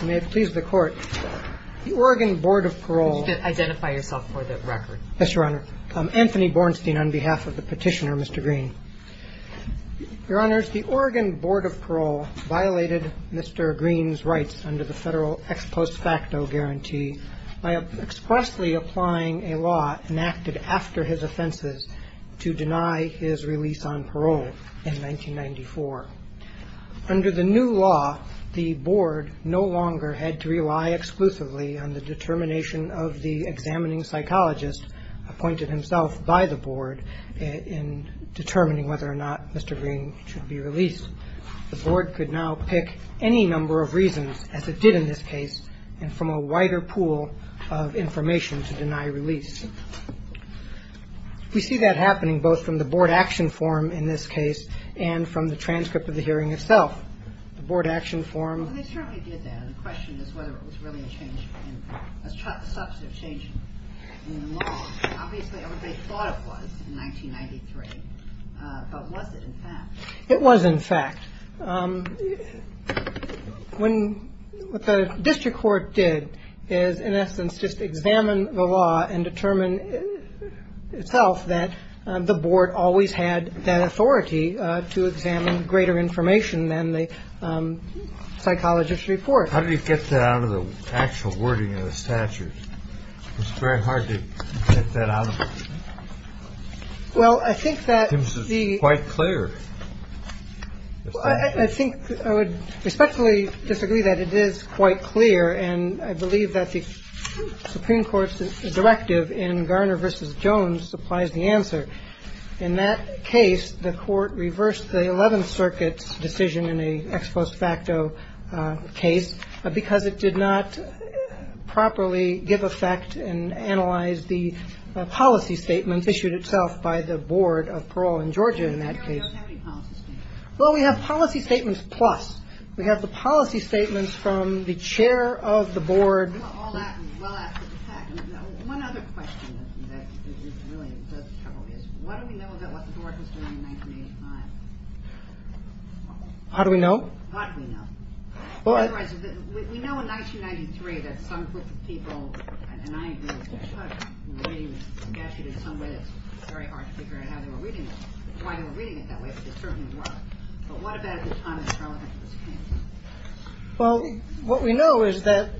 The Oregon Board of Parole violated Mr. Green's rights under the federal ex post facto guarantee by expressly applying a law enacted after his offenses to deny his release on parole in 1994. Under the new law, the board no longer had to rely exclusively on the determination of the examining psychologist appointed himself by the board in determining whether or not Mr. Green should be released. The board could now pick any number of reasons, as it did in this case, and from a wider pool of information to deny release. We see that happening both from the board action form, in this case, and from the transcript of the hearing itself. The board action form. The question is whether it was really a substantive change in the law. Obviously, everybody thought it was in 1993, but was it in fact? It was in fact. What the district court did is, in essence, just examine the law and determine itself that the board always had that authority to examine greater information than the psychologist's report. How do you get that out of the actual wording of the statute? It's very hard to get that out of it. Well, I think that the. It seems quite clear. I think I would respectfully disagree that it is quite clear, and I believe that the Supreme Court's directive in Garner v. Jones supplies the answer. In that case, the Court reversed the Eleventh Circuit's decision in an ex post facto case because it did not properly give effect and analyze the policy statement issued itself by the Board of Parole in Georgia in that case. Well, we have policy statements. Plus, we have the policy statements from the chair of the board. Well, one other question that really is. What do we know about what the board was doing in 1985? How do we know what we know? We know in 1993 that some people. And I think there's a statute in some way that's very hard to figure out how they were reading it, why they were reading it that way. But what about at the time? Well, what we know is that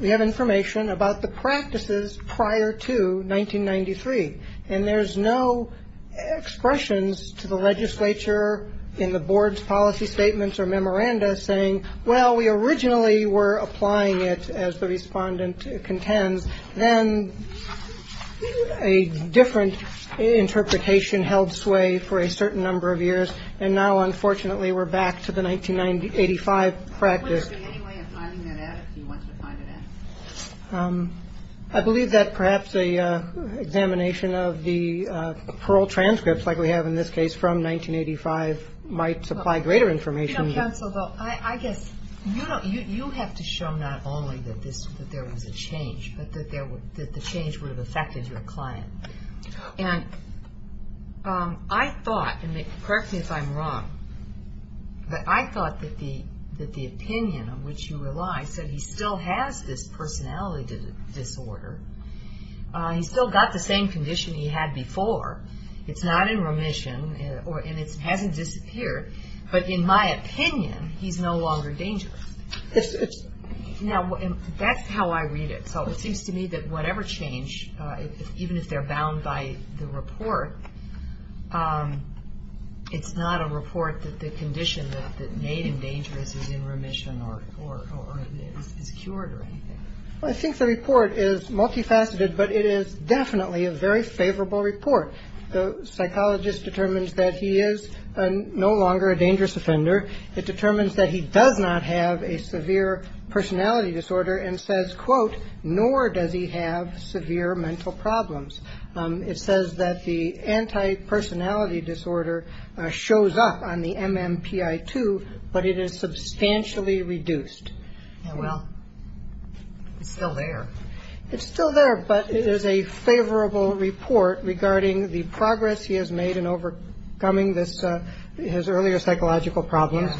we have information about the practices prior to 1993, and there's no expressions to the legislature in the board's policy statements or memoranda saying, well, we originally were applying it as the respondent contends. Then a different interpretation held sway for a certain number of years. And now, unfortunately, we're back to the 1985 practice. I believe that perhaps a examination of the parole transcripts, like we have in this case from 1985, might supply greater information. I guess you have to show not only that there was a change, but that the change would have affected your client. And I thought, and correct me if I'm wrong, but I thought that the opinion on which you relied said he still has this personality disorder. He's still got the same condition he had before. It's not in remission, and it hasn't disappeared. But in my opinion, he's no longer dangerous. Now, that's how I read it. It seems to me that whatever change, even if they're bound by the report, it's not a report that the condition that made him dangerous is in remission or is cured or anything. Well, I think the report is multifaceted, but it is definitely a very favorable report. The psychologist determines that he is no longer a dangerous offender. It determines that he does not have a severe personality disorder and says, quote, nor does he have severe mental problems. It says that the antipersonality disorder shows up on the MMPI-2, but it is substantially reduced. Well, it's still there. It's still there, but there's a favorable report regarding the progress he has made in overcoming this his earlier psychological problems.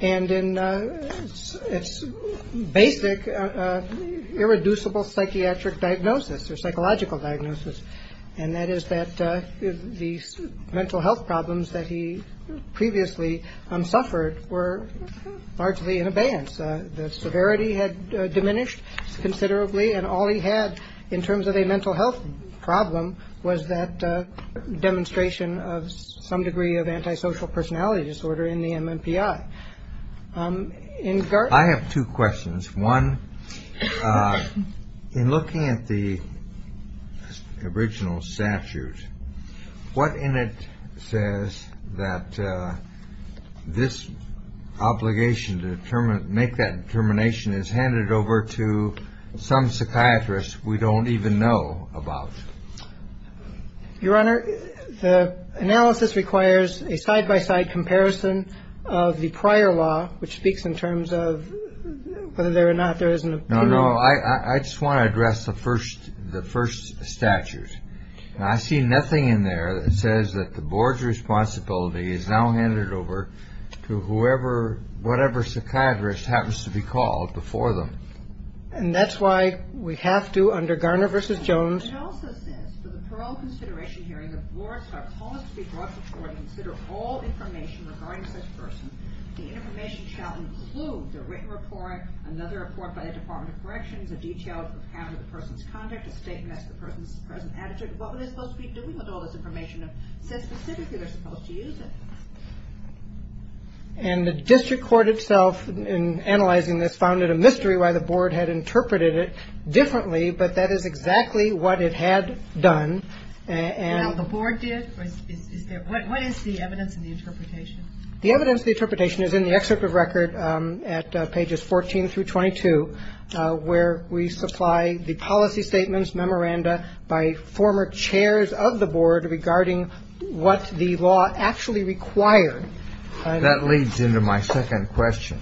And in its basic irreducible psychiatric diagnosis or psychological diagnosis, and that is that the mental health problems that he previously suffered were largely in abeyance. The severity had diminished considerably. And all he had in terms of a mental health problem was that demonstration of some degree of antisocial personality disorder in the MMPI. I have two questions. One, in looking at the original statute, what in it says that this obligation to determine, make that determination is handed over to some psychiatrist we don't even know about? Your Honor, the analysis requires a side by side comparison of the prior law, which speaks in terms of whether there or not there isn't. No, no. I just want to address the first the first statute. I see nothing in there that says that the board's responsibility is now handed over to whoever, whatever psychiatrist happens to be called before them. And that's why we have to under Garner versus Jones. It also says for the parole consideration hearing, the boards are called to be brought forward and consider all information regarding such person. The information shall include the written report, another report by the Department of Corrections, a detailed account of the person's conduct, a statement of the person's present attitude. What were they supposed to be doing with all this information? It says specifically they're supposed to use it. And the district court itself, in analyzing this, found it a mystery why the board had interpreted it differently. But that is exactly what it had done. The board did? What is the evidence in the interpretation? The evidence, the interpretation is in the excerpt of record at pages 14 through 22, where we supply the policy statements memoranda by former chairs of the board regarding what the law actually required. That leads into my second question.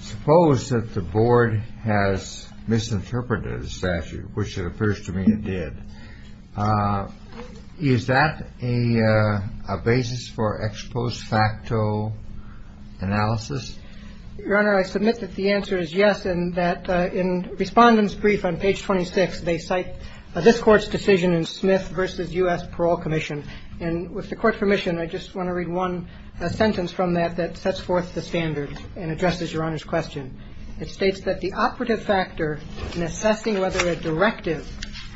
Suppose that the board has misinterpreted the statute, which it appears to me it did. Is that a basis for ex post facto analysis? Your Honor, I submit that the answer is yes, and that in Respondent's Brief on page 26, they cite this Court's decision in Smith v. U.S. Parole Commission. And with the Court's permission, I just want to read one sentence from that that sets forth the standard and addresses Your Honor's question. It states that the operative factor in assessing whether a directive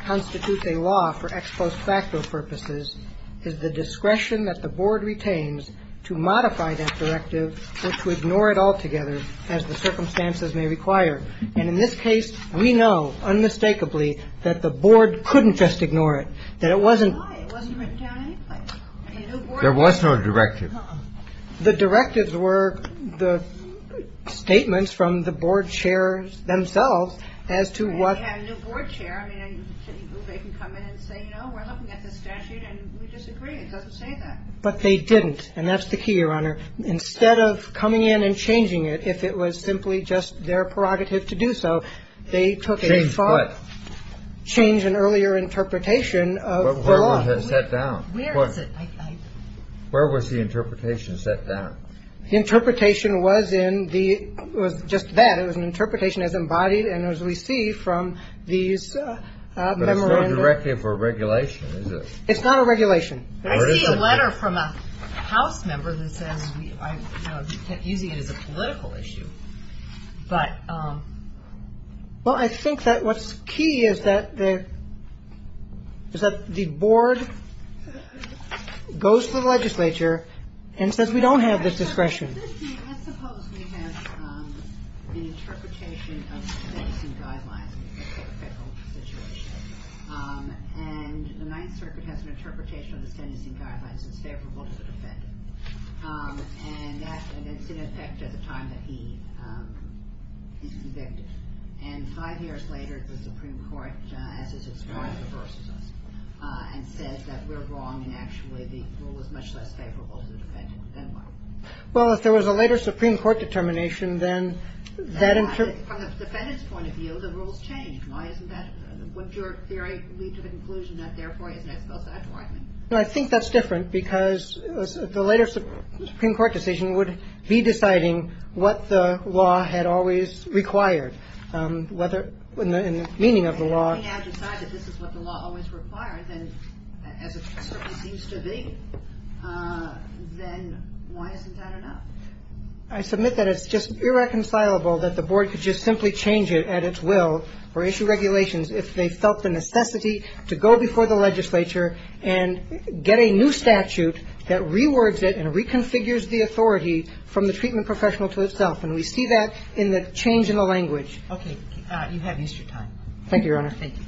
constitutes a law for ex post facto purposes is the discretion that the board retains to modify that directive or to ignore it altogether as the circumstances may require. And in this case, we know unmistakably that the board couldn't just ignore it, that it wasn't. It wasn't written down anyway. There was no directive. The directives were the statements from the board chairs themselves as to what. But they didn't. And that's the key, Your Honor. Instead of coming in and changing it, if it was simply just their prerogative to do so, they took a far. Change what? Change an earlier interpretation of the law. Where was it set down? Where was the interpretation set down? The interpretation was in the, was just that. It was an interpretation as embodied and as we see from these memoranda. But it's no directive or regulation, is it? It's not a regulation. I see a letter from a House member that says, you know, using it as a political issue. But. Well, I think that what's key is that the. Is that the board goes to the legislature and says, we don't have this discretion. Suppose we have an interpretation of the federal situation. And the Ninth Circuit has an interpretation of the sentencing guidelines. It's favorable to the defendant. And it's in effect at the time that he is convicted. And five years later, the Supreme Court, as it's described, reverses and says that we're wrong. And actually, the rule is much less favorable to the defendant. Well, if there was a later Supreme Court determination, then that inter. I think that's different because the latest Supreme Court decision would be deciding what the law had always required, whether in the meaning of the law. Why isn't that enough? I submit that it's just irreconcilable that the board could just simply change it at its will or issue regulations if they felt the necessity to go before the legislature and get a new statute that rewords it and reconfigures the authority from the treatment professional to itself. And we see that in the change in the language. Okay. You have extra time. Thank you, Your Honor. Thank you.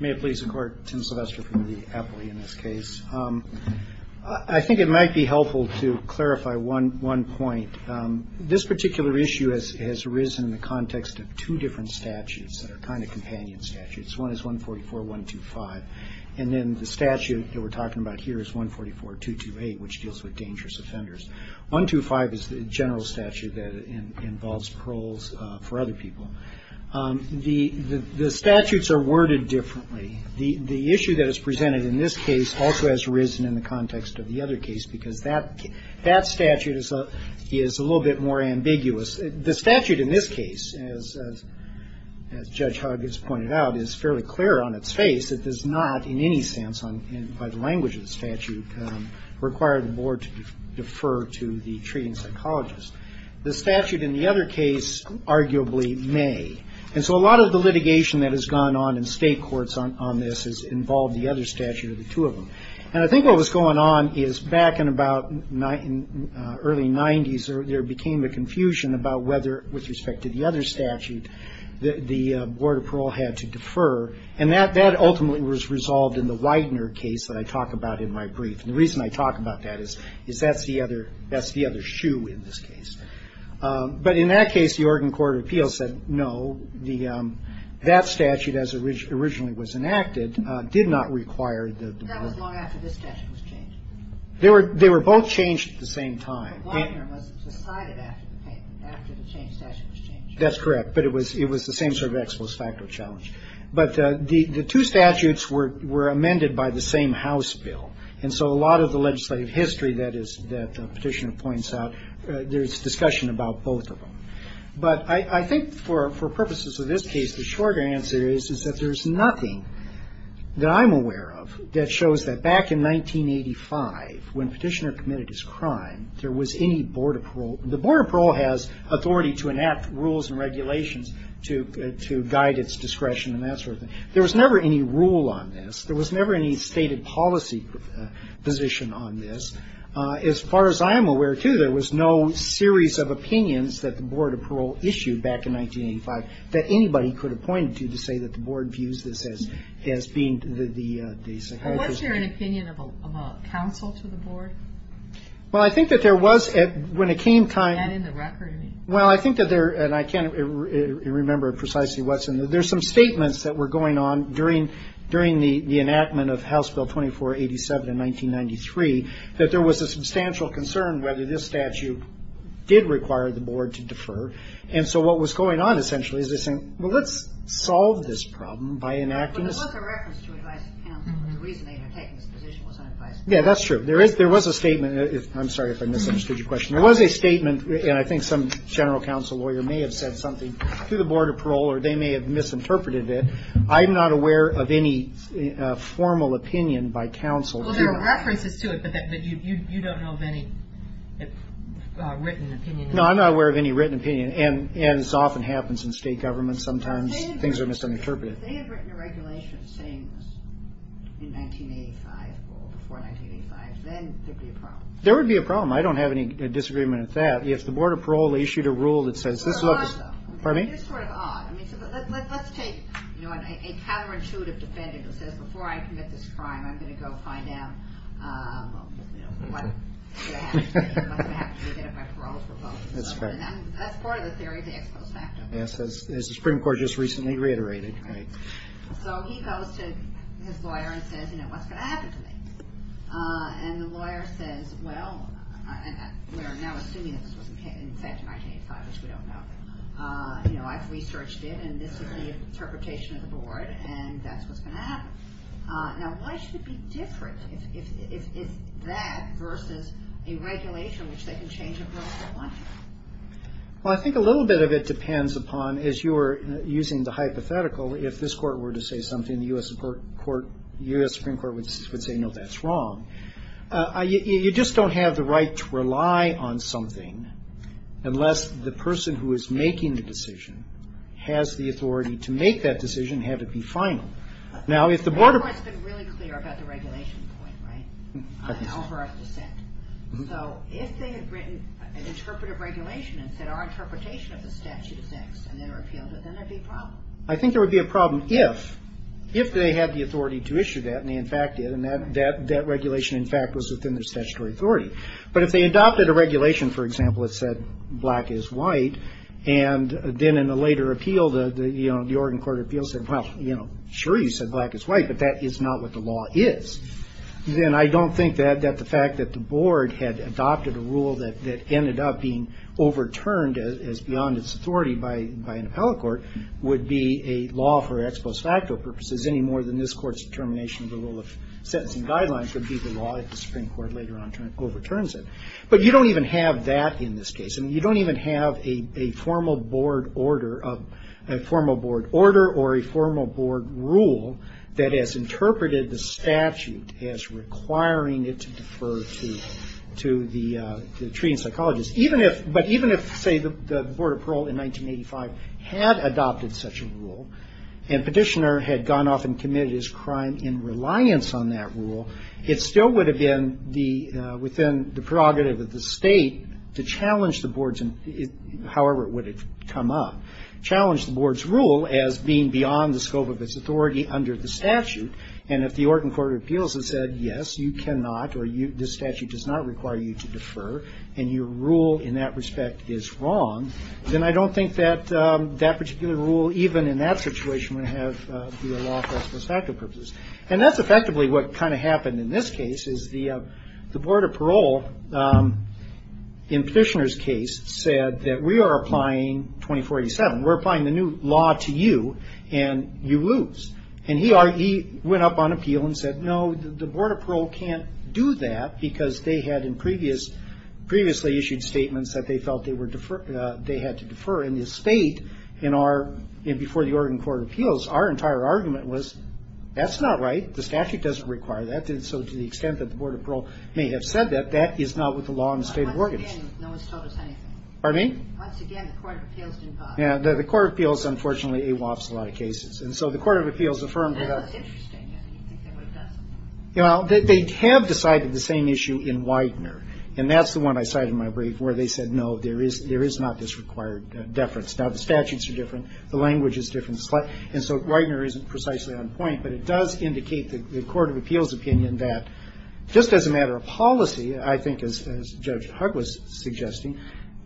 May it please the Court? Tim Sylvester from the appellee in this case. I think it might be helpful to clarify one point. This particular issue has arisen in the context of two different statutes that are kind of companion statutes. One is 144.125. And then the statute that we're talking about here is 144.228, which deals with dangerous offenders. 125 is the general statute that involves paroles for other people. The statutes are worded differently. The issue that is presented in this case also has risen in the context of the other case because that statute is a little bit more ambiguous. The statute in this case, as Judge Hogg has pointed out, is fairly clear on its face. It does not in any sense by the language of the statute require the board to defer to the treating psychologist. The statute in the other case arguably may. And so a lot of the litigation that has gone on in state courts on this has involved the other statute or the two of them. And I think what was going on is back in about early 90s, there became a confusion about whether, with respect to the other statute, the Board of Parole had to defer. And that ultimately was resolved in the Widener case that I talk about in my brief. And the reason I talk about that is that's the other shoe in this case. But in that case, the Oregon Court of Appeals said no. That statute, as originally was enacted, did not require the board. They were both changed at the same time. That's correct. But it was the same sort of expos facto challenge. But the two statutes were amended by the same House bill. And so a lot of the legislative history that Petitioner points out, there's discussion about both of them. But I think for purposes of this case, the shorter answer is that there's nothing that I'm aware of that shows that back in 1985, when Petitioner committed his crime, there was any Board of Parole. The Board of Parole has authority to enact rules and regulations to guide its discretion and that sort of thing. There was never any rule on this. There was never any stated policy position on this. As far as I'm aware, too, there was no series of opinions that the Board of Parole issued back in 1985 that anybody could have pointed to to say that the board views this as being the psychiatrist's. Was there an opinion of a counsel to the board? Well, I think that there was when it came time. Is that in the record? Well, I think that there, and I can't remember precisely what's in there. There's some statements that were going on during the enactment of House Bill 2487 in 1993 that there was a substantial concern whether this statute did require the board to defer. And so what was going on, essentially, is they're saying, well, let's solve this problem by enacting this. But there was a reference to advising counsel. The reason they had taken this position was to advise counsel. Yeah, that's true. There was a statement. I'm sorry if I misunderstood your question. There was a statement, and I think some general counsel lawyer may have said something to the Board of Parole or they may have misinterpreted it. I'm not aware of any formal opinion by counsel. Well, there are references to it, but you don't know of any written opinion. No, I'm not aware of any written opinion. And this often happens in state government. Sometimes things are misinterpreted. If they had written a regulation saying this in 1985 or before 1985, then there would be a problem. There would be a problem. I don't have any disagreement with that. If the Board of Parole issued a rule that says this looks... Let's take a counterintuitive defendant who says, before I commit this crime, I'm going to go find out... That's part of the theory of the ex post facto. Yes, as the Supreme Court just recently reiterated. Right. So he goes to his lawyer and says, you know, what's going to happen to me? And the lawyer says, well, we're now assuming that this was in fact in 1985, which we don't know. You know, I've researched it, and this is the interpretation of the Board, and that's what's going to happen. Now, why should it be different if that versus a regulation which they can change a rule on? Well, I think a little bit of it depends upon, as you were using the hypothetical, if this court were to say something, the U.S. Supreme Court would say, no, that's wrong. You just don't have the right to rely on something unless the person who is making the decision has the authority to make that decision and have it be final. Now, if the Board... I think there would be a problem if they had the authority to issue that, and they in fact did, and that regulation in fact was within their statutory authority. But if they adopted a regulation, for example, that said black is white, and then in a later appeal, you know, the Oregon Court of Appeals said, well, you know, sure, you said black is white, but that is not what the law is. Then I don't think that the fact that the Board had adopted a rule that ended up being overturned as beyond its authority by an appellate court would be a law for ex post facto purposes any more than this Court's determination of the rule of sentencing guidelines would be the law if the Supreme Court later on overturns it. But you don't even have that in this case. I mean, you don't even have a formal board order or a formal board rule that has interpreted the statute as requiring it to defer to the treating psychologist. But even if, say, the Board of Parole in 1985 had adopted such a rule and Petitioner had gone off and committed his crime in reliance on that rule, it still would have been within the prerogative of the State to challenge the Board's however it would have come up, challenge the Board's rule as being beyond the scope of its authority under the statute. And if the Oregon Court of Appeals had said, yes, you cannot or this statute does not require you to defer and your rule in that respect is wrong, then I don't think that that particular rule even in that situation would be a law for ex post facto purposes. And that's effectively what kind of happened in this case, is the Board of Parole in Petitioner's case said that we are applying 2487, we're applying the new law to you and you lose. And he went up on appeal and said, no, the Board of Parole can't do that because they had previously issued statements that they felt they had to defer and the State, before the Oregon Court of Appeals, our entire argument was, that's not right, the statute doesn't require that, and so to the extent that the Board of Parole may have said that, that is not with the law in the State of Oregon. Once again, no one's told us anything. Pardon me? Once again, the Court of Appeals didn't bother us. Yeah, the Court of Appeals unfortunately awafts a lot of cases, and so the Court of Appeals affirmed that... That's interesting, I didn't think they would have done something. You know, they have decided the same issue in Widener, and that's the one I cited in my brief where they said, no, there is not this required deference. Now, the statutes are different, the language is different, and so Widener isn't precisely on point, but it does indicate the Court of Appeals' opinion that just as a matter of policy, I think as Judge Hugg was suggesting,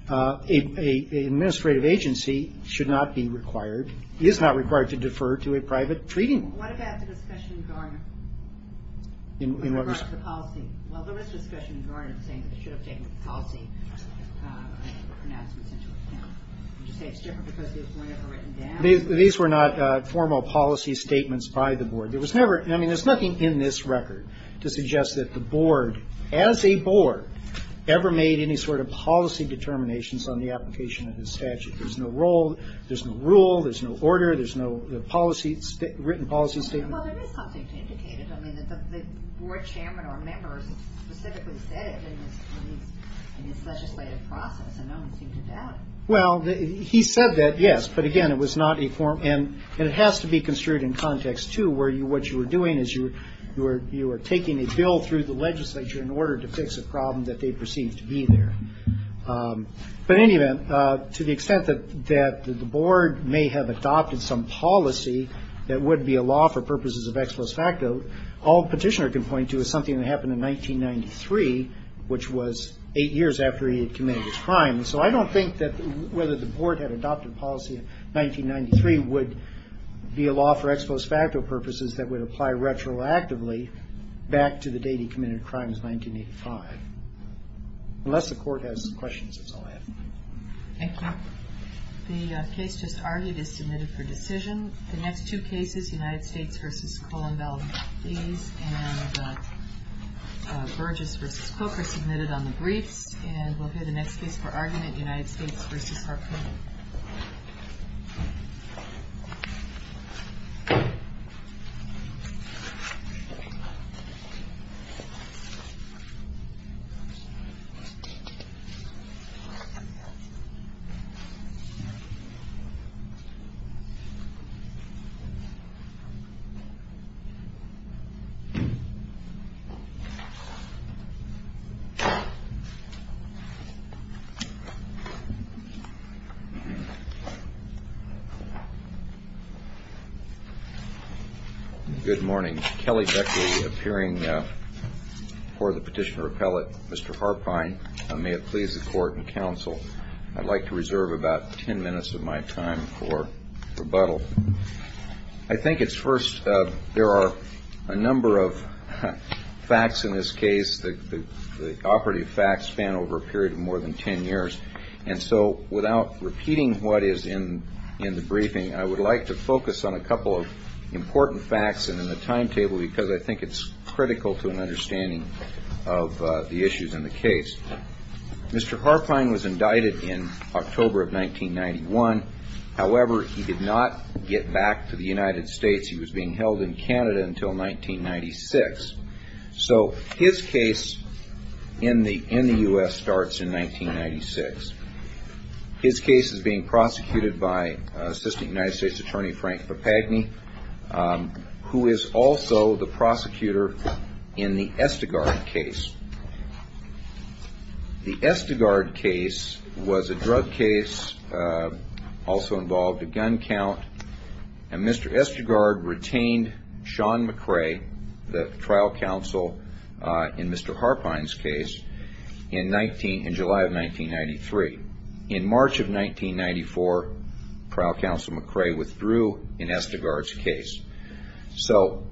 an administrative agency should not be required, is not required to defer to a private treaty. What about the discussion in Garner? In what respect? With regard to the policy. Well, there was discussion in Garner saying that they should have taken the policy pronouncements into account. Would you say it's different because it was more of a written down? These were not formal policy statements by the board. There was never, I mean, there's nothing in this record to suggest that the board, as a board, ever made any sort of policy determinations on the application of this statute. There's no rule, there's no order, there's no policy, written policy statement. Well, there is something to indicate it. I mean, the board chairman or members specifically said it in this legislative process, and no one seemed to doubt it. Well, he said that, yes, but, again, it was not a formal, and it has to be construed in context, too, where what you were doing is you were taking a bill through the legislature in order to fix a problem that they perceived to be there. But, in any event, to the extent that the board may have adopted some policy that would be a law for purposes of ex post facto, all Petitioner can point to is something that happened in 1993, which was eight years after he had committed his crime. So I don't think that whether the board had adopted policy in 1993 would be a law for ex post facto purposes that would apply retroactively back to the date he committed a crime in 1985, unless the court has questions, that's all I have. Thank you. The case just argued is submitted for decision. The next two cases, United States v. Kohlenbaum, please, and Burgess v. Cook are submitted on the briefs, and we'll hear the next case for argument, United States v. Harpoon. Good morning. Kelly Beckley appearing for the Petitioner Appellate. Mr. Harpine, may it please the Court and Counsel, I'd like to reserve about ten minutes of my time for rebuttal. I think it's first, there are a number of facts in this case, the operative facts span over a period of more than ten years, and so without repeating what is in the briefing, I would like to focus on a couple of important facts in the timetable because I think it's critical to an understanding of the issues in the case. Mr. Harpine was indicted in October of 1991. However, he did not get back to the United States. He was being held in Canada until 1996. So his case in the U.S. starts in 1996. His case is being prosecuted by Assistant United States Attorney Frank Papagni, who is also the prosecutor in the Estegard case. The Estegard case was a drug case, also involved a gun count, and Mr. Estegard retained Sean McRae, the trial counsel in Mr. Harpine's case, in July of 1993. In March of 1994, trial counsel McRae withdrew in Estegard's case. So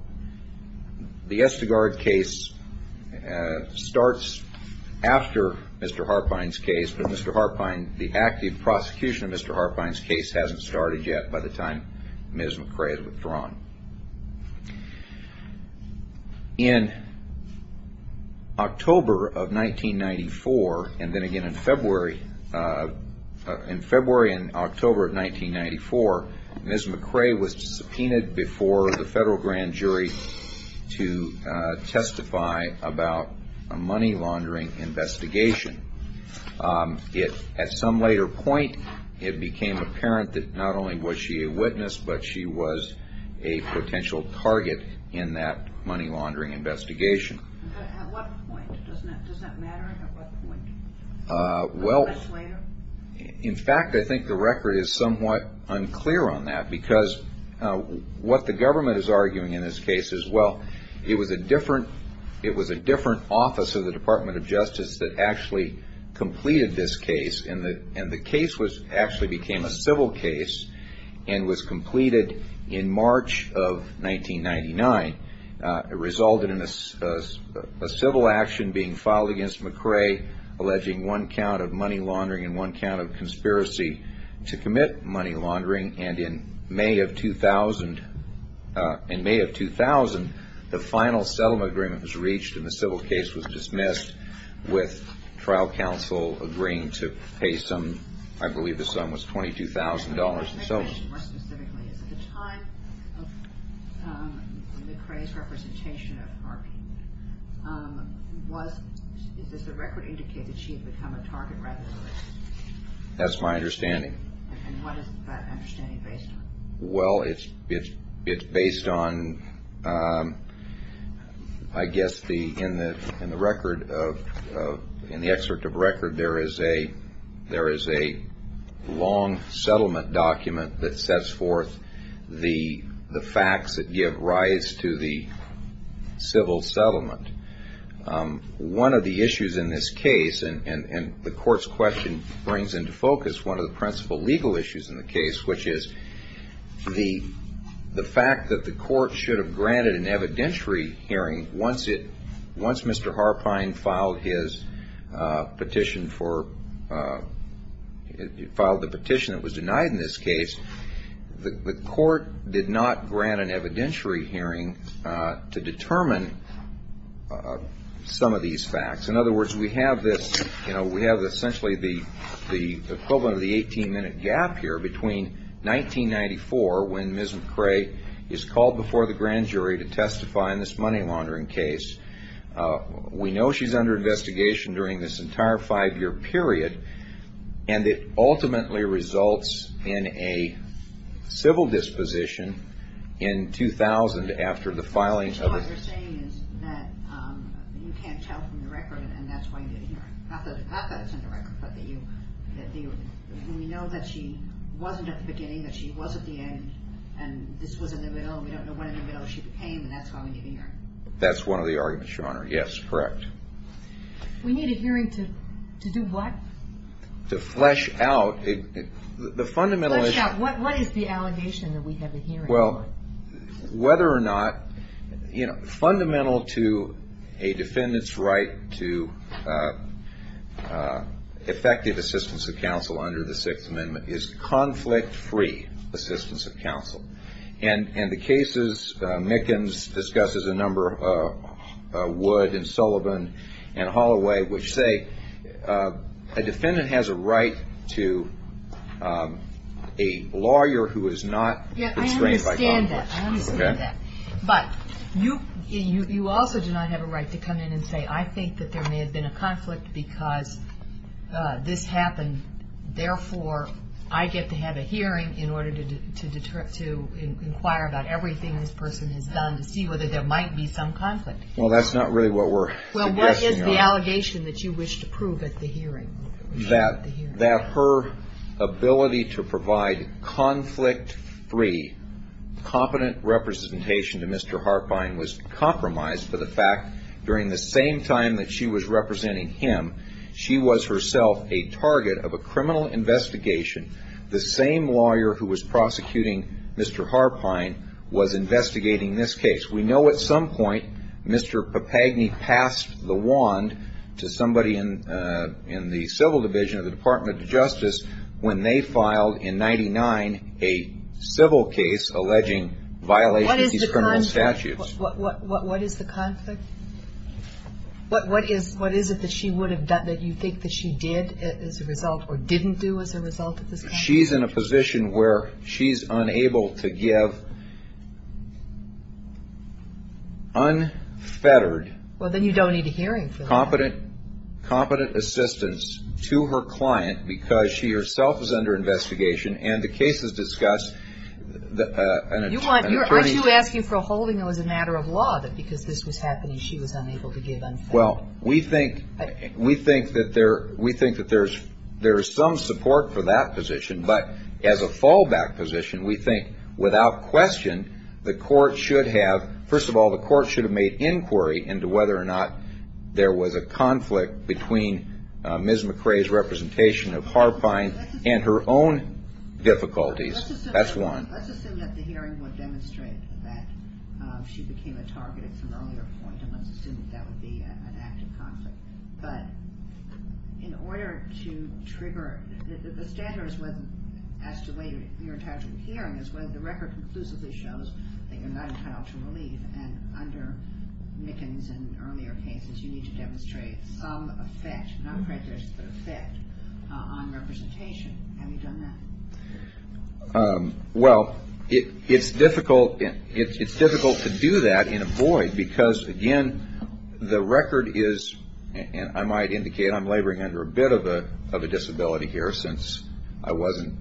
the Estegard case starts after Mr. Harpine's case, but Mr. Harpine, the active prosecution of Mr. Harpine's case, hasn't started yet by the time Ms. McRae has withdrawn. In October of 1994, and then again in February and October of 1994, Ms. McRae was subpoenaed before the federal grand jury to testify about a money laundering investigation. At some later point, it became apparent that not only was she a witness, but she was a potential target in that money laundering investigation. At what point? Does that matter at what point? Well, in fact, I think the record is somewhat unclear on that, because what the government is arguing in this case is, well, it was a different office of the Department of Justice that actually completed this case, and the case actually became a civil case and was completed in March of 1999. It resulted in a civil action being filed against McRae alleging one count of money laundering and one count of conspiracy to commit money laundering, and in May of 2000, the final settlement agreement was reached and the civil case was dismissed with trial counsel agreeing to pay some, I believe the sum was $22,000 and so on. If I may ask you more specifically, is it the time of McRae's representation of Harvey, does the record indicate that she had become a target rather than a witness? That's my understanding. And what is that understanding based on? Well, it's based on, I guess, in the record, in the excerpt of record, there is a long settlement document that sets forth the facts that give rise to the civil settlement. One of the issues in this case, and the court's question brings into focus one of the principal legal issues in the case, which is the fact that the court should have granted an evidentiary hearing once Mr. Harpine filed the petition that was denied in this case. The court did not grant an evidentiary hearing to determine some of these facts. In other words, we have this, you know, we have essentially the equivalent of the 18-minute gap here between 1994 when Ms. McRae is called before the grand jury to testify in this money laundering case. We know she's under investigation during this entire five-year period, and it ultimately results in a civil disposition in 2000 after the filing of the case. What you're saying is that you can't tell from the record, and that's why you didn't hear it. Not that it's in the record, but we know that she wasn't at the beginning, that she was at the end, and this was in the middle, and we don't know when in the middle she became, and that's why we didn't hear it. That's one of the arguments, Your Honor. Yes, correct. We need a hearing to do what? To flesh out. The fundamental is... Flesh out. What is the allegation that we have a hearing for? Whether or not, you know, fundamental to a defendant's right to effective assistance of counsel under the Sixth Amendment is conflict-free assistance of counsel. And the cases Mickens discusses a number, Wood and Sullivan and Holloway, which say a defendant has a right to a lawyer Yeah, I understand that. I understand that. But you also do not have a right to come in and say, I think that there may have been a conflict because this happened, therefore I get to have a hearing in order to inquire about everything this person has done to see whether there might be some conflict. Well, that's not really what we're suggesting, Your Honor. Well, what is the allegation that you wish to prove at the hearing? That her ability to provide conflict-free, competent representation to Mr. Harpine was compromised for the fact during the same time that she was representing him, she was herself a target of a criminal investigation. The same lawyer who was prosecuting Mr. Harpine was investigating this case. We know at some point Mr. Papagni passed the wand to somebody in the Civil Division of the Department of Justice when they filed in 1999 a civil case alleging violation of these criminal statutes. What is the conflict? What is it that she would have done that you think that she did as a result or didn't do as a result of this conflict? She's in a position where she's unable to give unfettered... Well, then you don't need a hearing for that. ...competent assistance to her client because she herself is under investigation and the case is discussed. Aren't you asking for a holding that was a matter of law that because this was happening she was unable to give unfettered? Well, we think that there is some support for that position, but as a fallback position we think without question the court should have, first of all the court should have made inquiry into whether or not there was a conflict between Ms. McCrae's representation of Harpine and her own difficulties. That's one. Let's assume that the hearing would demonstrate that she became a target at some earlier point and let's assume that that would be an act of conflict. But in order to trigger, the standard as to whether you're entitled to a hearing is whether the record conclusively shows that you're not entitled to relief and under Mickens and earlier cases you need to demonstrate some effect, and I'm afraid there's an effect on representation. Have you done that? Well, it's difficult to do that in a void because, again, the record is, and I might indicate I'm laboring under a bit of a disability here since I wasn't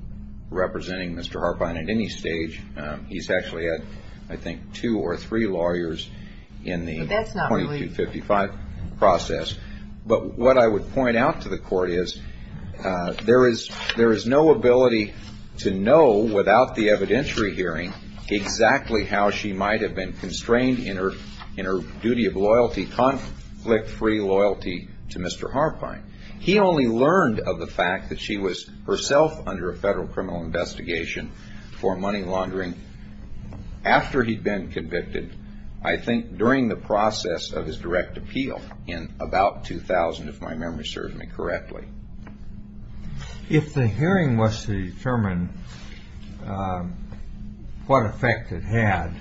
representing Mr. Harpine at any stage. He's actually had, I think, two or three lawyers in the 2255 process. But what I would point out to the court is there is no ability to know, without the evidentiary hearing, exactly how she might have been constrained in her duty of loyalty, conflict-free loyalty to Mr. Harpine. He only learned of the fact that she was herself under a federal criminal investigation for money laundering after he'd been convicted, I think during the process of his direct appeal in about 2000, if my memory serves me correctly. If the hearing was to determine what effect it had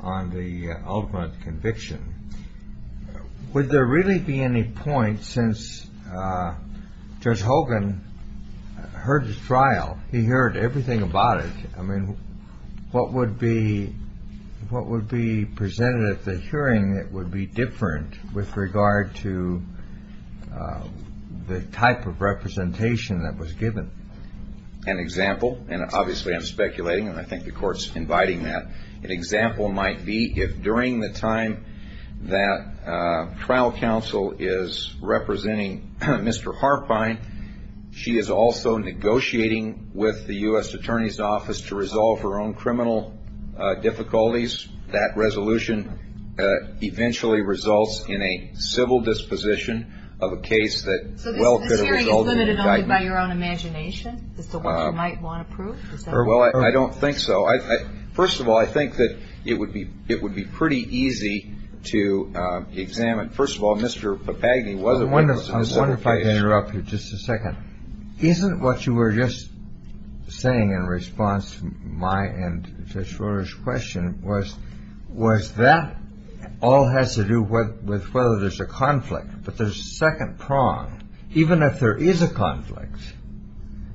on the ultimate conviction, would there really be any point since Judge Hogan heard the trial, he heard everything about it, I mean, what would be presented at the hearing that would be different with regard to the type of representation that was given? An example, and obviously I'm speculating, and I think the court's inviting that, an example might be if during the time that trial counsel is representing Mr. Harpine, she is also negotiating with the U.S. Attorney's Office to resolve her own criminal difficulties. That resolution eventually results in a civil disposition of a case that well could have resulted in indictment. So this hearing is limited only by your own imagination? Is that what you might want to prove? Well, I don't think so. First of all, I think that it would be pretty easy to examine. First of all, Mr. Papagni wasn't... I wonder if I could interrupt you just a second. Isn't what you were just saying in response to my and Judge Schroeder's question was that all has to do with whether there's a conflict, but there's a second prong. Even if there is a conflict,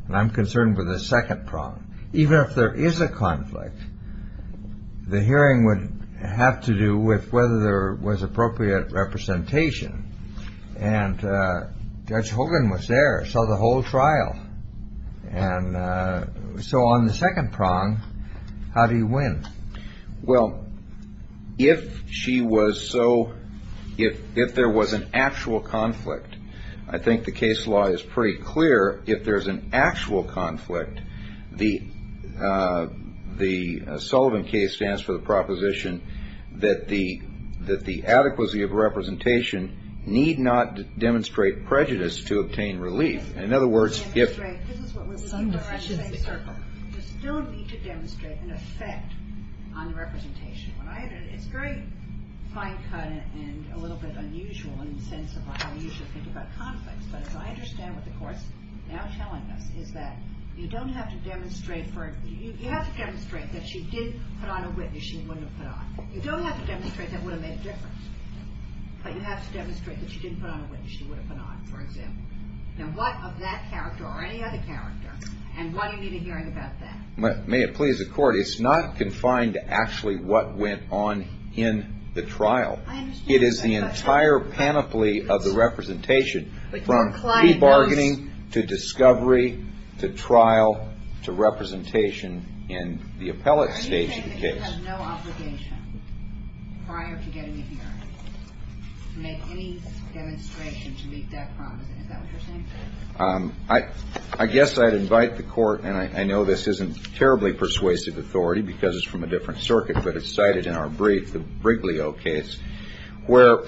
and I'm concerned with the second prong, even if there is a conflict, the hearing would have to do with whether there was appropriate representation. And Judge Hogan was there, saw the whole trial. And so on the second prong, how do you win? Well, if she was so... if there was an actual conflict, I think the case law is pretty clear. If there's an actual conflict, the Sullivan case stands for the proposition that the adequacy of representation need not demonstrate prejudice to obtain relief. In other words, if... Demonstrate. This is what we're looking for in the same circle. You still need to demonstrate an effect on the representation. It's very fine-cut and a little bit unusual in the sense of how we usually think about conflicts. But as I understand what the court's now telling us is that you don't have to demonstrate for... You have to demonstrate that she did put on a witness she wouldn't have put on. You don't have to demonstrate that would have made a difference. But you have to demonstrate that she didn't put on a witness she would have put on, for example. Now, what of that character or any other character, and why do you need a hearing about that? May it please the Court, it's not confined to actually what went on in the trial. I understand. It is the entire panoply of the representation, from pre-bargaining to discovery to trial to representation in the appellate stage of the case. Do you think the court has no obligation prior to getting a hearing to make any demonstration to meet that promise? Is that what you're saying? I guess I'd invite the court, and I know this isn't terribly persuasive authority because it's from a different circuit, but it's cited in our brief, the Briglio case, where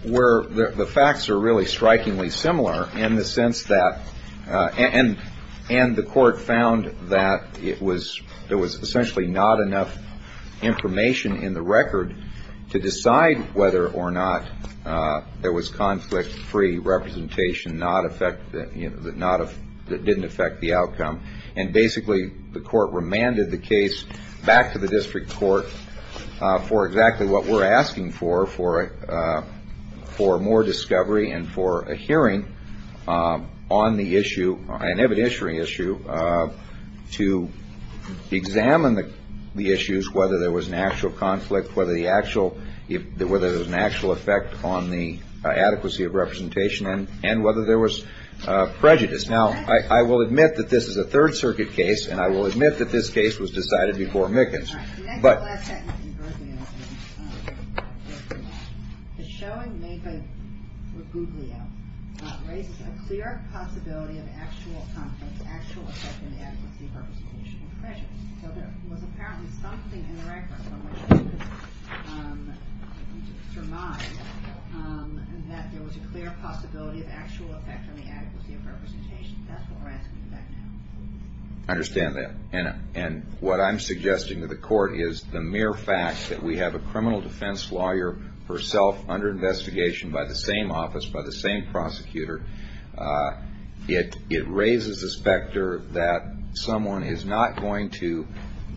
the facts are really strikingly similar in the sense that, and the court found that there was essentially not enough information in the record to decide whether or not there was conflict-free representation that didn't affect the outcome. And basically, the court remanded the case back to the district court for exactly what we're asking for, for more discovery and for a hearing on the issue, an evidentiary issue, to examine the issues, whether there was an actual conflict, whether there was an actual effect on the adequacy of representation, and whether there was prejudice. Now, I will admit that this is a Third Circuit case, and I will admit that this case was decided before Mickens. All right. The next and last sentence in Briglio is, the showing made by Briglio raises a clear possibility of actual conflict, actual effect on the adequacy of representation and prejudice. So there was apparently something in the record from which you could surmise that there was a clear possibility of actual effect on the adequacy of representation. That's what we're asking for back now. I understand that. And what I'm suggesting to the court is the mere fact that we have a criminal defense lawyer herself under investigation by the same office, by the same prosecutor, it raises the specter that someone is not going to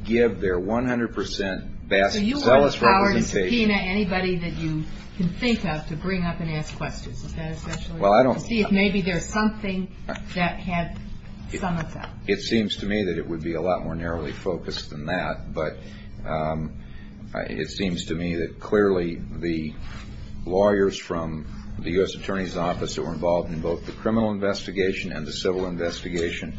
give their 100 percent best, So you would have the power to subpoena anybody that you can think of to bring up and ask questions. Is that essential? Well, I don't. To see if maybe there's something that had some effect. It seems to me that it would be a lot more narrowly focused than that, but it seems to me that clearly the lawyers from the U.S. Attorney's Office that were involved in both the criminal investigation and the civil investigation,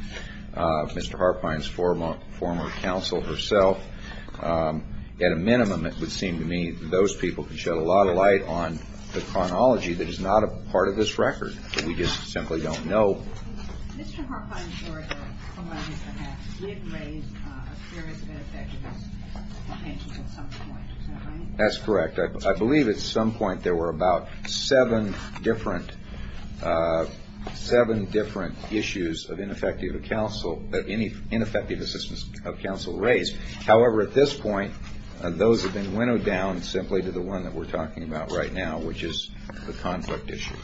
Mr. Harfine's former counsel herself, at a minimum, it would seem to me that those people could shed a lot of light on the chronology that is not a part of this record. We just simply don't know. Mr. Harfine's lawyer, Alonzo Hatch, did raise a theory that it may have given us a hint at some point, is that right? That's correct. I believe at some point there were about seven different issues of ineffective counsel that ineffective assistance of counsel raised. However, at this point, those have been winnowed down simply to the one that we're talking about right now, which is the conflict issue.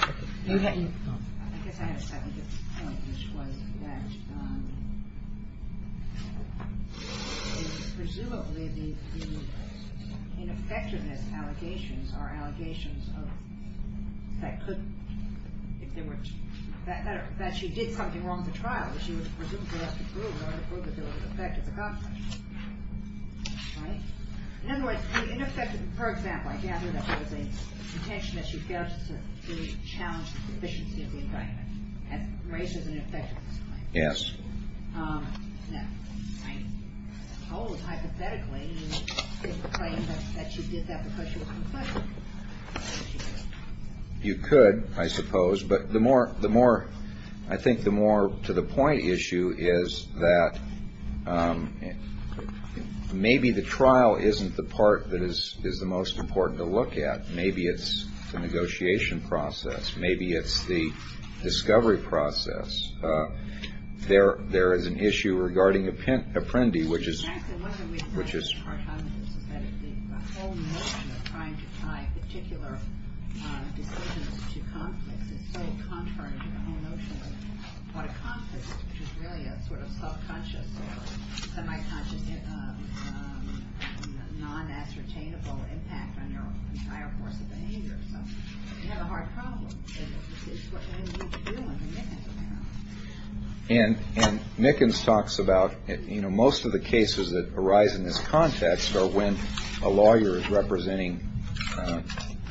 I guess I had a second point, which was that presumably the ineffectiveness allegations are allegations that she did something wrong at the trial that she was presumed to have to prove in order to prove that there was an effect of the conflict. In other words, for example, I gather that there was an intention that she failed to challenge the efficiency of the indictment. That raises an ineffectiveness claim. Yes. Now, I suppose, hypothetically, you could claim that she did that because she was conflicted. You could, I suppose. But I think the more to the point issue is that maybe the trial isn't the part that is the most important to look at. Maybe it's the negotiation process. Maybe it's the discovery process. There is an issue regarding Apprendi, which is. Which is. I particular. And Nickens talks about, you know, most of the cases that arise in this context are when a lawyer is representing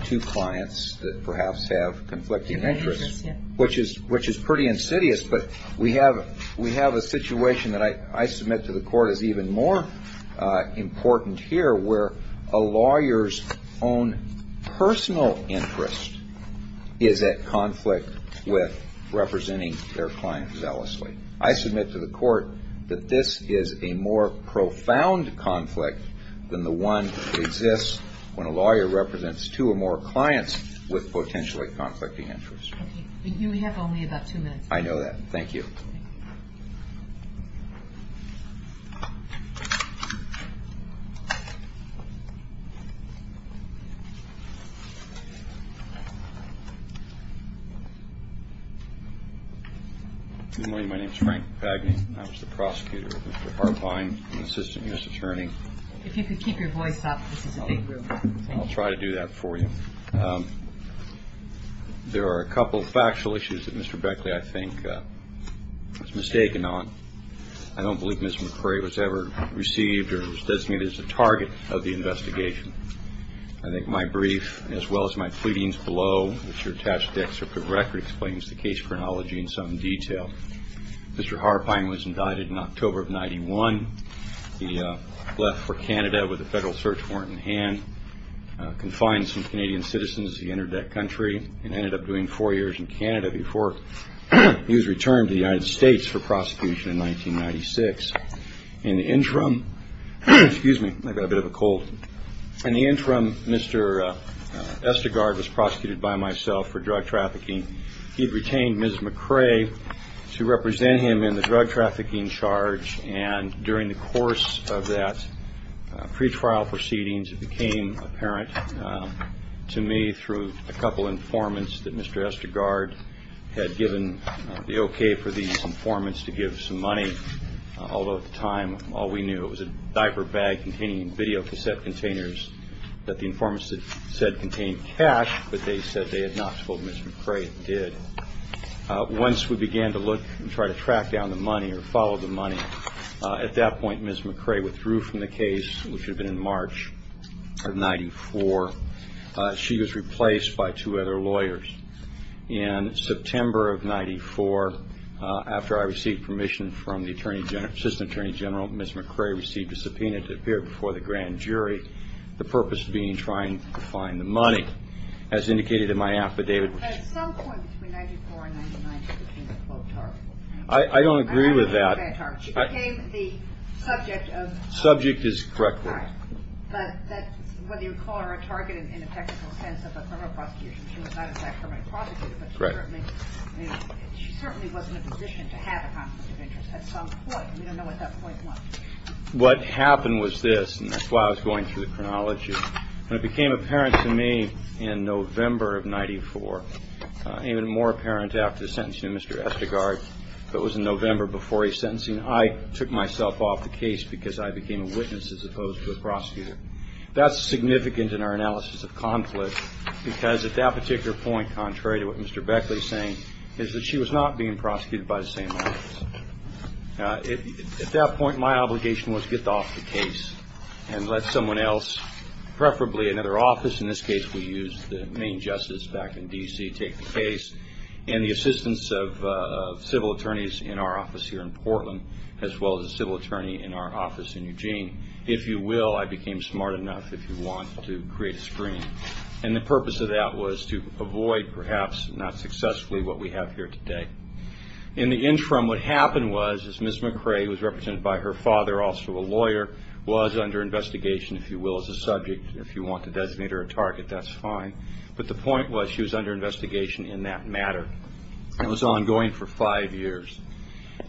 two clients. That perhaps have conflicting interests, which is which is pretty insidious. But we have we have a situation that I submit to the court is even more important here where a lawyer's own personal interest is at conflict with representing their client. I submit to the court that this is a more profound conflict than the one that exists when a lawyer represents two or more clients with potentially conflicting interests. We have only about two minutes. I know that. Thank you. My name is Frank Bagni. I was the prosecutor. Mr. Harbine, assistant U.S. attorney. If you could keep your voice up. I'll try to do that for you. There are a couple of factual issues that Mr. Beckley, I think, was mistaken on. I don't believe Mr. McRae was ever received or designated as a target of the investigation. I think my brief, as well as my pleadings below, which are attached to the record, explains the case chronology in some detail. Mr. Harbine was indicted in October of 91. He left for Canada with a federal search warrant in hand, confined some Canadian citizens to the internet country, and ended up doing four years in Canada before he was returned to the United States for prosecution in 1996. In the interim, Mr. Estegard was prosecuted by myself for drug trafficking. He had retained Ms. McRae to represent him in the drug trafficking charge, and during the course of that pretrial proceedings it became apparent to me through a couple of informants that Mr. Estegard had given the okay for these informants to give some money, although at the time all we knew, it was a diaper bag containing videocassette containers that the informants had said contained cash, but they said they had not told Ms. McRae it did. Once we began to look and try to track down the money or follow the money, at that point Ms. McRae withdrew from the case, which had been in March of 94. She was replaced by two other lawyers. In September of 94, after I received permission from the Assistant Attorney General, Ms. McRae received a subpoena to appear before the grand jury, the purpose being trying to find the money. As indicated in my affidavit... But at some point between 94 and 99 she became a target. I don't agree with that. She became the subject of... Subject is correct. But whether you call her a target in a technical sense of a criminal prosecution, she was not in fact a criminal prosecutor, but she certainly wasn't in a position to have a conflict of interest at some point. We don't know what that point was. What happened was this, and that's why I was going through the chronology. When it became apparent to me in November of 94, even more apparent after the sentencing of Mr. Estegard, that was in November before his sentencing, I took myself off the case because I became a witness as opposed to a prosecutor. That's significant in our analysis of conflict, because at that particular point, contrary to what Mr. Beckley is saying, is that she was not being prosecuted by the same lawyers. At that point, my obligation was to get off the case and let someone else, preferably another office, in this case we used the Maine Justice back in D.C., take the case and the assistance of civil attorneys in our office here in Portland, as well as a civil attorney in our office in Eugene. If you will, I became smart enough, if you want, to create a screen. And the purpose of that was to avoid, perhaps not successfully, what we have here today. In the interim, what happened was, is Ms. McRae, who was represented by her father, also a lawyer, was under investigation, if you will, as a subject. If you want to designate her a target, that's fine. But the point was, she was under investigation in that matter. It was ongoing for five years.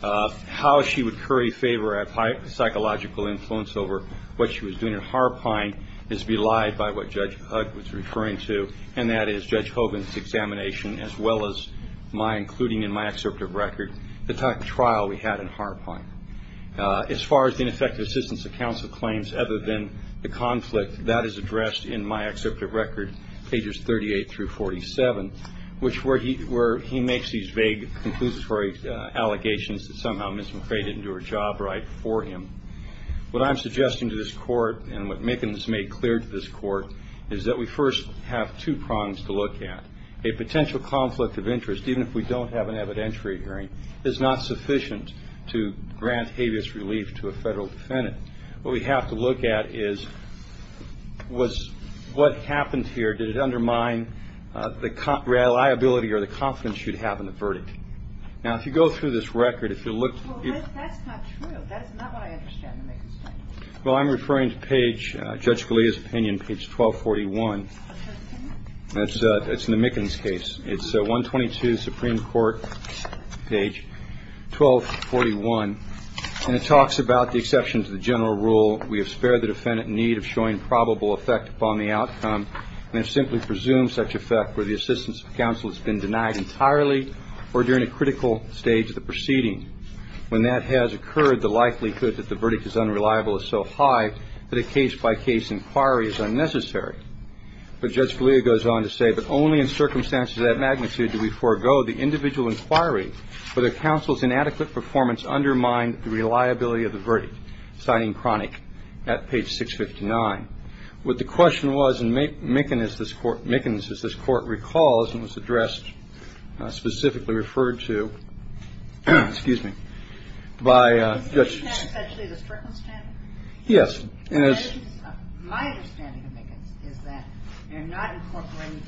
How she would curry favor of psychological influence over what she was doing at Harpine is belied by what Judge Hugg was referring to, and that is Judge Hogan's examination, as well as mine, including in my excerpt of record, the trial we had in Harpine. As far as the ineffective assistance of counsel claims other than the conflict, that is addressed in my excerpt of record, pages 38 through 47, which where he makes these vague, conclusive allegations that somehow Ms. McRae didn't do her job right for him. What I'm suggesting to this Court, and what Mickens made clear to this Court, is that we first have two prongs to look at. A potential conflict of interest, even if we don't have an evidentiary hearing, is not sufficient to grant habeas relief to a federal defendant. What we have to look at is, was what happened here, did it undermine the reliability or the confidence you'd have in the verdict? Now, if you go through this record, if you look at... Well, that's not true. That is not what I understand in Mickens' case. Well, I'm referring to page, Judge Scalia's opinion, page 1241. That's in the Mickens case. It's 122, Supreme Court, page 1241. And it talks about the exception to the general rule. We have spared the defendant in need of showing probable effect upon the outcome and have simply presumed such effect where the assistance of counsel has been denied entirely or during a critical stage of the proceeding. When that has occurred, the likelihood that the verdict is unreliable is so high that a case-by-case inquiry is unnecessary. But Judge Scalia goes on to say, but only in circumstances of that magnitude do we forego the individual inquiry where the counsel's inadequate performance undermined the reliability of the verdict, citing Cronick at page 659. What the question was in Mickens, as this Court recalls, this question was addressed, specifically referred to, excuse me, by Judge ‑‑ Is that essentially the Strickland standard? Yes. My understanding of Mickens is that you're not incorporating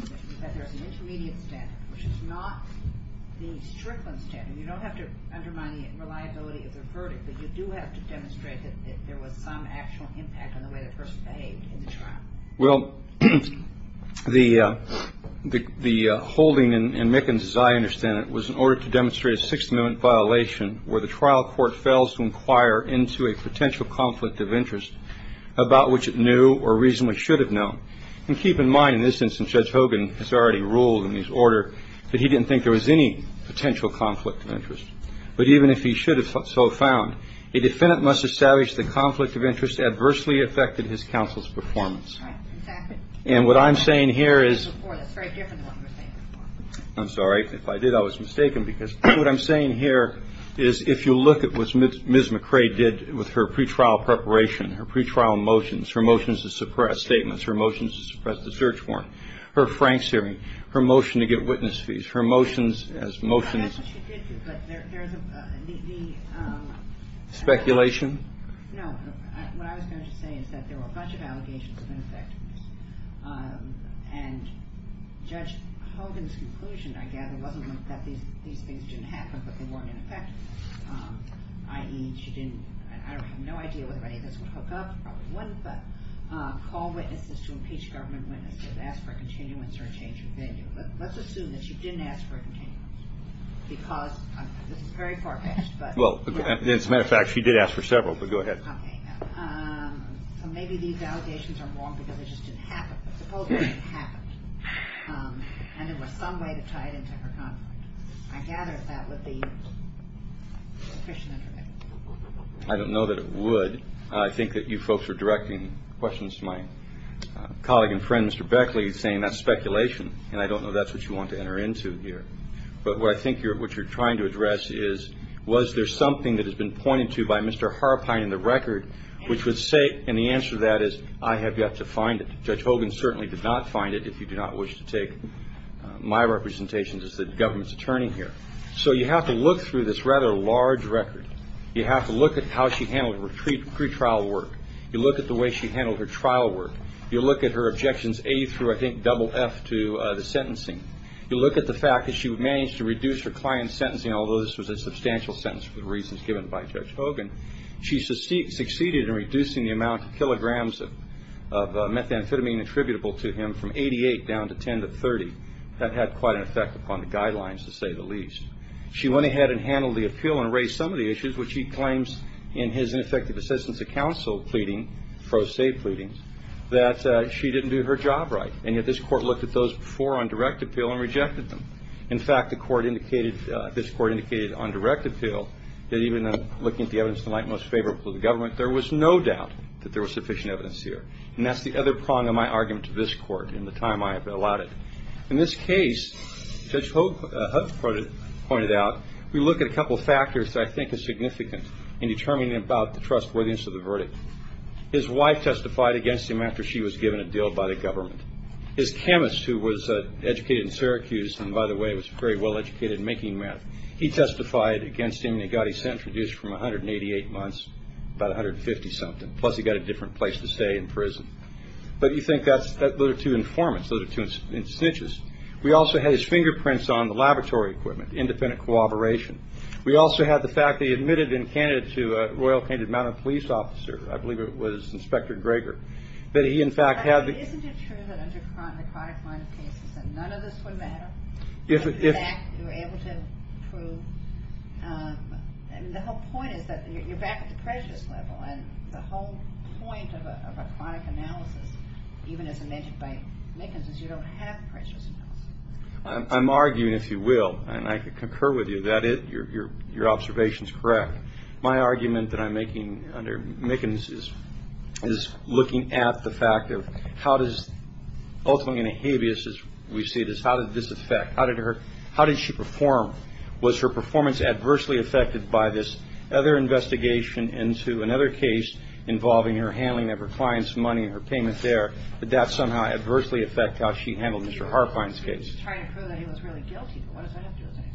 the, that there's an intermediate standard, which is not the Strickland standard. You don't have to undermine the reliability of the verdict, but you do have to demonstrate that there was some actual impact on the way the person behaved in the trial. Well, the holding in Mickens, as I understand it, was in order to demonstrate a Sixth Amendment violation where the trial court fails to inquire into a potential conflict of interest about which it knew or reasonably should have known. And keep in mind, in this instance, Judge Hogan has already ruled in his order that he didn't think there was any potential conflict of interest. But even if he should have so found, a defendant must establish the conflict of interest adversely affected his counsel's performance. Right. Exactly. And what I'm saying here is ‑‑ That's very different to what you were saying before. I'm sorry. If I did, I was mistaken because what I'm saying here is if you look at what Ms. McRae did with her pretrial preparation, her pretrial motions, her motions to suppress statements, her motions to suppress the search warrant, her Franks hearing, her motion to get witness fees, her motions as motions ‑‑ Speculation? No. What I was going to say is that there were a bunch of allegations of ineffectiveness. And Judge Hogan's conclusion, I gather, wasn't that these things didn't happen, but they weren't ineffective. I.e., she didn't ‑‑ I have no idea whether any of this would hook up. It probably wouldn't. But call witnesses to impeach government witnesses. Ask for a continuance or a change of venue. But let's assume that she didn't ask for a continuance because this is very far‑fetched. Well, as a matter of fact, she did ask for several. But go ahead. Okay. So maybe these allegations are wrong because it just didn't happen. Suppose it didn't happen. And there was some way to tie it into her contract. I gather that would be sufficient evidence. I don't know that it would. I think that you folks are directing questions to my colleague and friend, Mr. Beckley, saying that's speculation. And I don't know if that's what you want to enter into here. But what I think what you're trying to address is, was there something that has been pointed to by Mr. Harpine in the record which would say, and the answer to that is, I have yet to find it. Judge Hogan certainly did not find it, if you do not wish to take my representation as the government's attorney here. So you have to look through this rather large record. You have to look at how she handled her pretrial work. You look at the way she handled her trial work. You look at her objections A through, I think, double F to the sentencing. You look at the fact that she managed to reduce her client's sentencing, although this was a substantial sentence for the reasons given by Judge Hogan. She succeeded in reducing the amount of kilograms of methamphetamine attributable to him from 88 down to 10 to 30. That had quite an effect upon the guidelines, to say the least. She went ahead and handled the appeal and raised some of the issues, which he claims in his ineffective assistance of counsel pleading, Frosay pleadings, that she didn't do her job right. And yet this court looked at those before on direct appeal and rejected them. In fact, this court indicated on direct appeal that even looking at the evidence tonight most favorable to the government, there was no doubt that there was sufficient evidence here. And that's the other prong of my argument to this court in the time I have allotted. In this case, Judge Hogan pointed out, we look at a couple of factors that I think are significant in determining about the trustworthiness of the verdict. His wife testified against him after she was given a deal by the government. His chemist, who was educated in Syracuse, and by the way was very well educated in making meth, he testified against him and he got his sentence reduced from 188 months to about 150-something. Plus he got a different place to stay in prison. But you think those are two informants, those are two snitches. We also had his fingerprints on the laboratory equipment, independent cooperation. We also had the fact that he admitted in Canada to a Royal Canadian Mounted Police officer, I believe it was Inspector Greger, that he in fact had the... Isn't it true that under the chronic line of cases that none of this would matter? If... You were able to prove... The whole point is that you're back at the prejudice level and the whole point of a chronic analysis, even as I mentioned by Mickens, is you don't have prejudice analysis. I'm arguing, if you will, and I concur with you, that your observation is correct. My argument that I'm making under Mickens is looking at the fact of how does, ultimately in a habeas as we see this, how did this affect, how did her, how did she perform? Was her performance adversely affected by this other investigation into another case involving her handling of her client's money and her payment there? Did that somehow adversely affect how she handled Mr. Harfine's case? You're just trying to prove that he was really guilty, but what does that have to do with anything?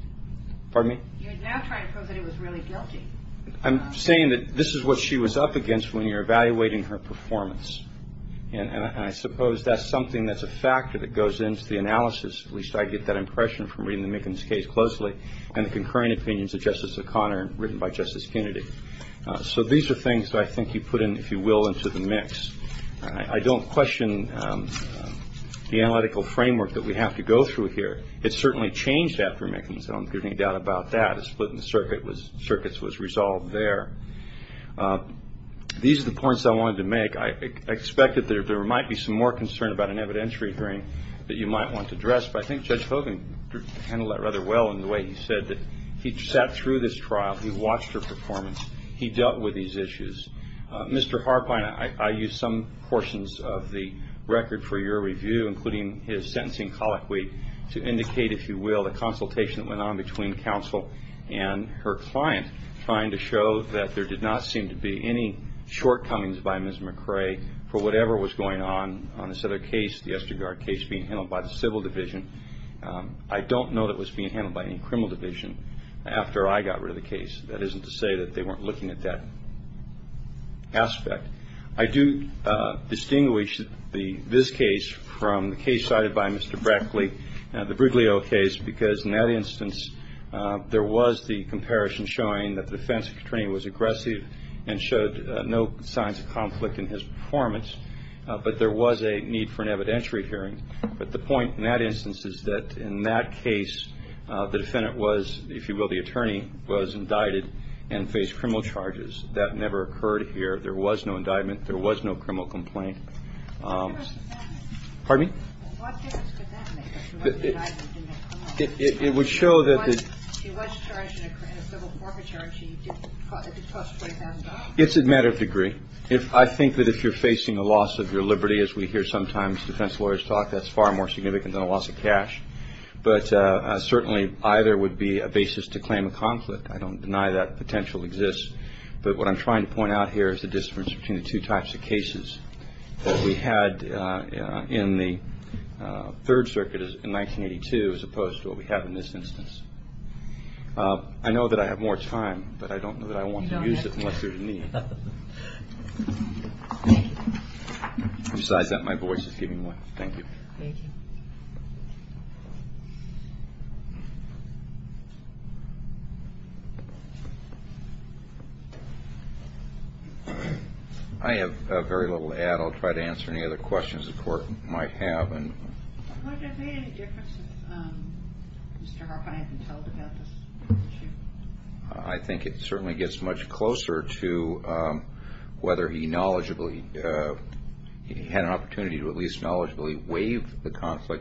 Pardon me? You're now trying to prove that he was really guilty. I'm saying that this is what she was up against when you're evaluating her performance, and I suppose that's something that's a factor that goes into the analysis, at least I get that impression from reading the Mickens case closely, and the concurring opinions of Justice O'Connor written by Justice Kennedy. So these are things that I think you put in, if you will, into the mix. I don't question the analytical framework that we have to go through here. It certainly changed after Mickens, I don't think there's any doubt about that. The split in the circuits was resolved there. These are the points I wanted to make. I expect that there might be some more concern about an evidentiary hearing that you might want to address, but I think Judge Hogan handled that rather well in the way he said that he sat through this trial, he watched her performance, he dealt with these issues. Mr. Harpine, I used some portions of the record for your review, including his sentencing colloquy, to indicate, if you will, the consultation that went on between counsel and her client, trying to show that there did not seem to be any shortcomings by Ms. McRae for whatever was going on, on this other case, the Estegard case being handled by the Civil Division. I don't know that it was being handled by any criminal division after I got rid of the case. That isn't to say that they weren't looking at that aspect. I do distinguish this case from the case cited by Mr. Brackley, the Briglio case, because in that instance there was the comparison showing that the defense attorney was aggressive and showed no signs of conflict in his performance, but there was a need for an evidentiary hearing. But the point in that instance is that in that case the defendant was, if you will, the attorney was indicted and faced criminal charges. That never occurred here. There was no indictment. There was no criminal complaint. Pardon me? What difference could that make if she wasn't indicted and didn't face criminal charges? It would show that the- She was charged in a civil corporate charge. She did cost $20,000. It's a matter of degree. I think that if you're facing a loss of your liberty, as we hear sometimes defense lawyers talk, that's far more significant than a loss of cash. But certainly either would be a basis to claim a conflict. I don't deny that potential exists. But what I'm trying to point out here is the difference between the two types of cases that we had in the Third Circuit in 1982 as opposed to what we have in this instance. I know that I have more time, but I don't know that I want to use it unless there's a need. Besides that, my voice is giving way. Thank you. Thank you. I have very little to add. I'll try to answer any other questions the Court might have. Would it have made any difference if Mr. Hoffman hadn't told about this issue? I think it certainly gets much closer to whether he knowledgeably-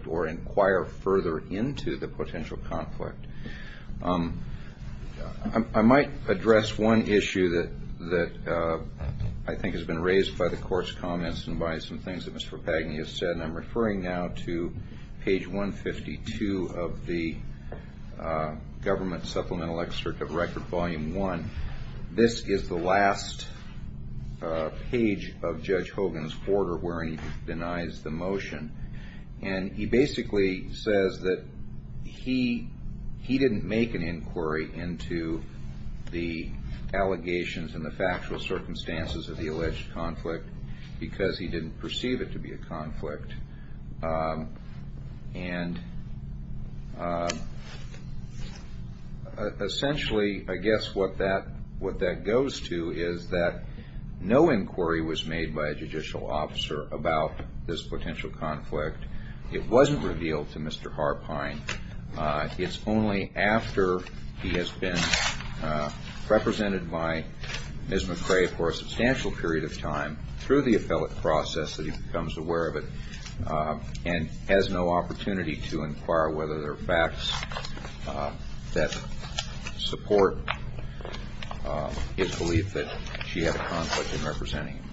or inquire further into the potential conflict. I might address one issue that I think has been raised by the Court's comments and by some things that Mr. Pagni has said, and I'm referring now to page 152 of the Government Supplemental Excerpt of Record, Volume 1. This is the last page of Judge Hogan's order where he denies the motion. And he basically says that he didn't make an inquiry into the allegations and the factual circumstances of the alleged conflict because he didn't perceive it to be a conflict. And essentially, I guess what that goes to is that no inquiry was made by a judicial officer about this potential conflict. It wasn't revealed to Mr. Harpine. It's only after he has been represented by Ms. McCrae for a substantial period of time, through the appellate process, that he becomes aware of it and has no opportunity to inquire whether there are facts that support his belief that she had a conflict in representing him.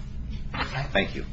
Thank you.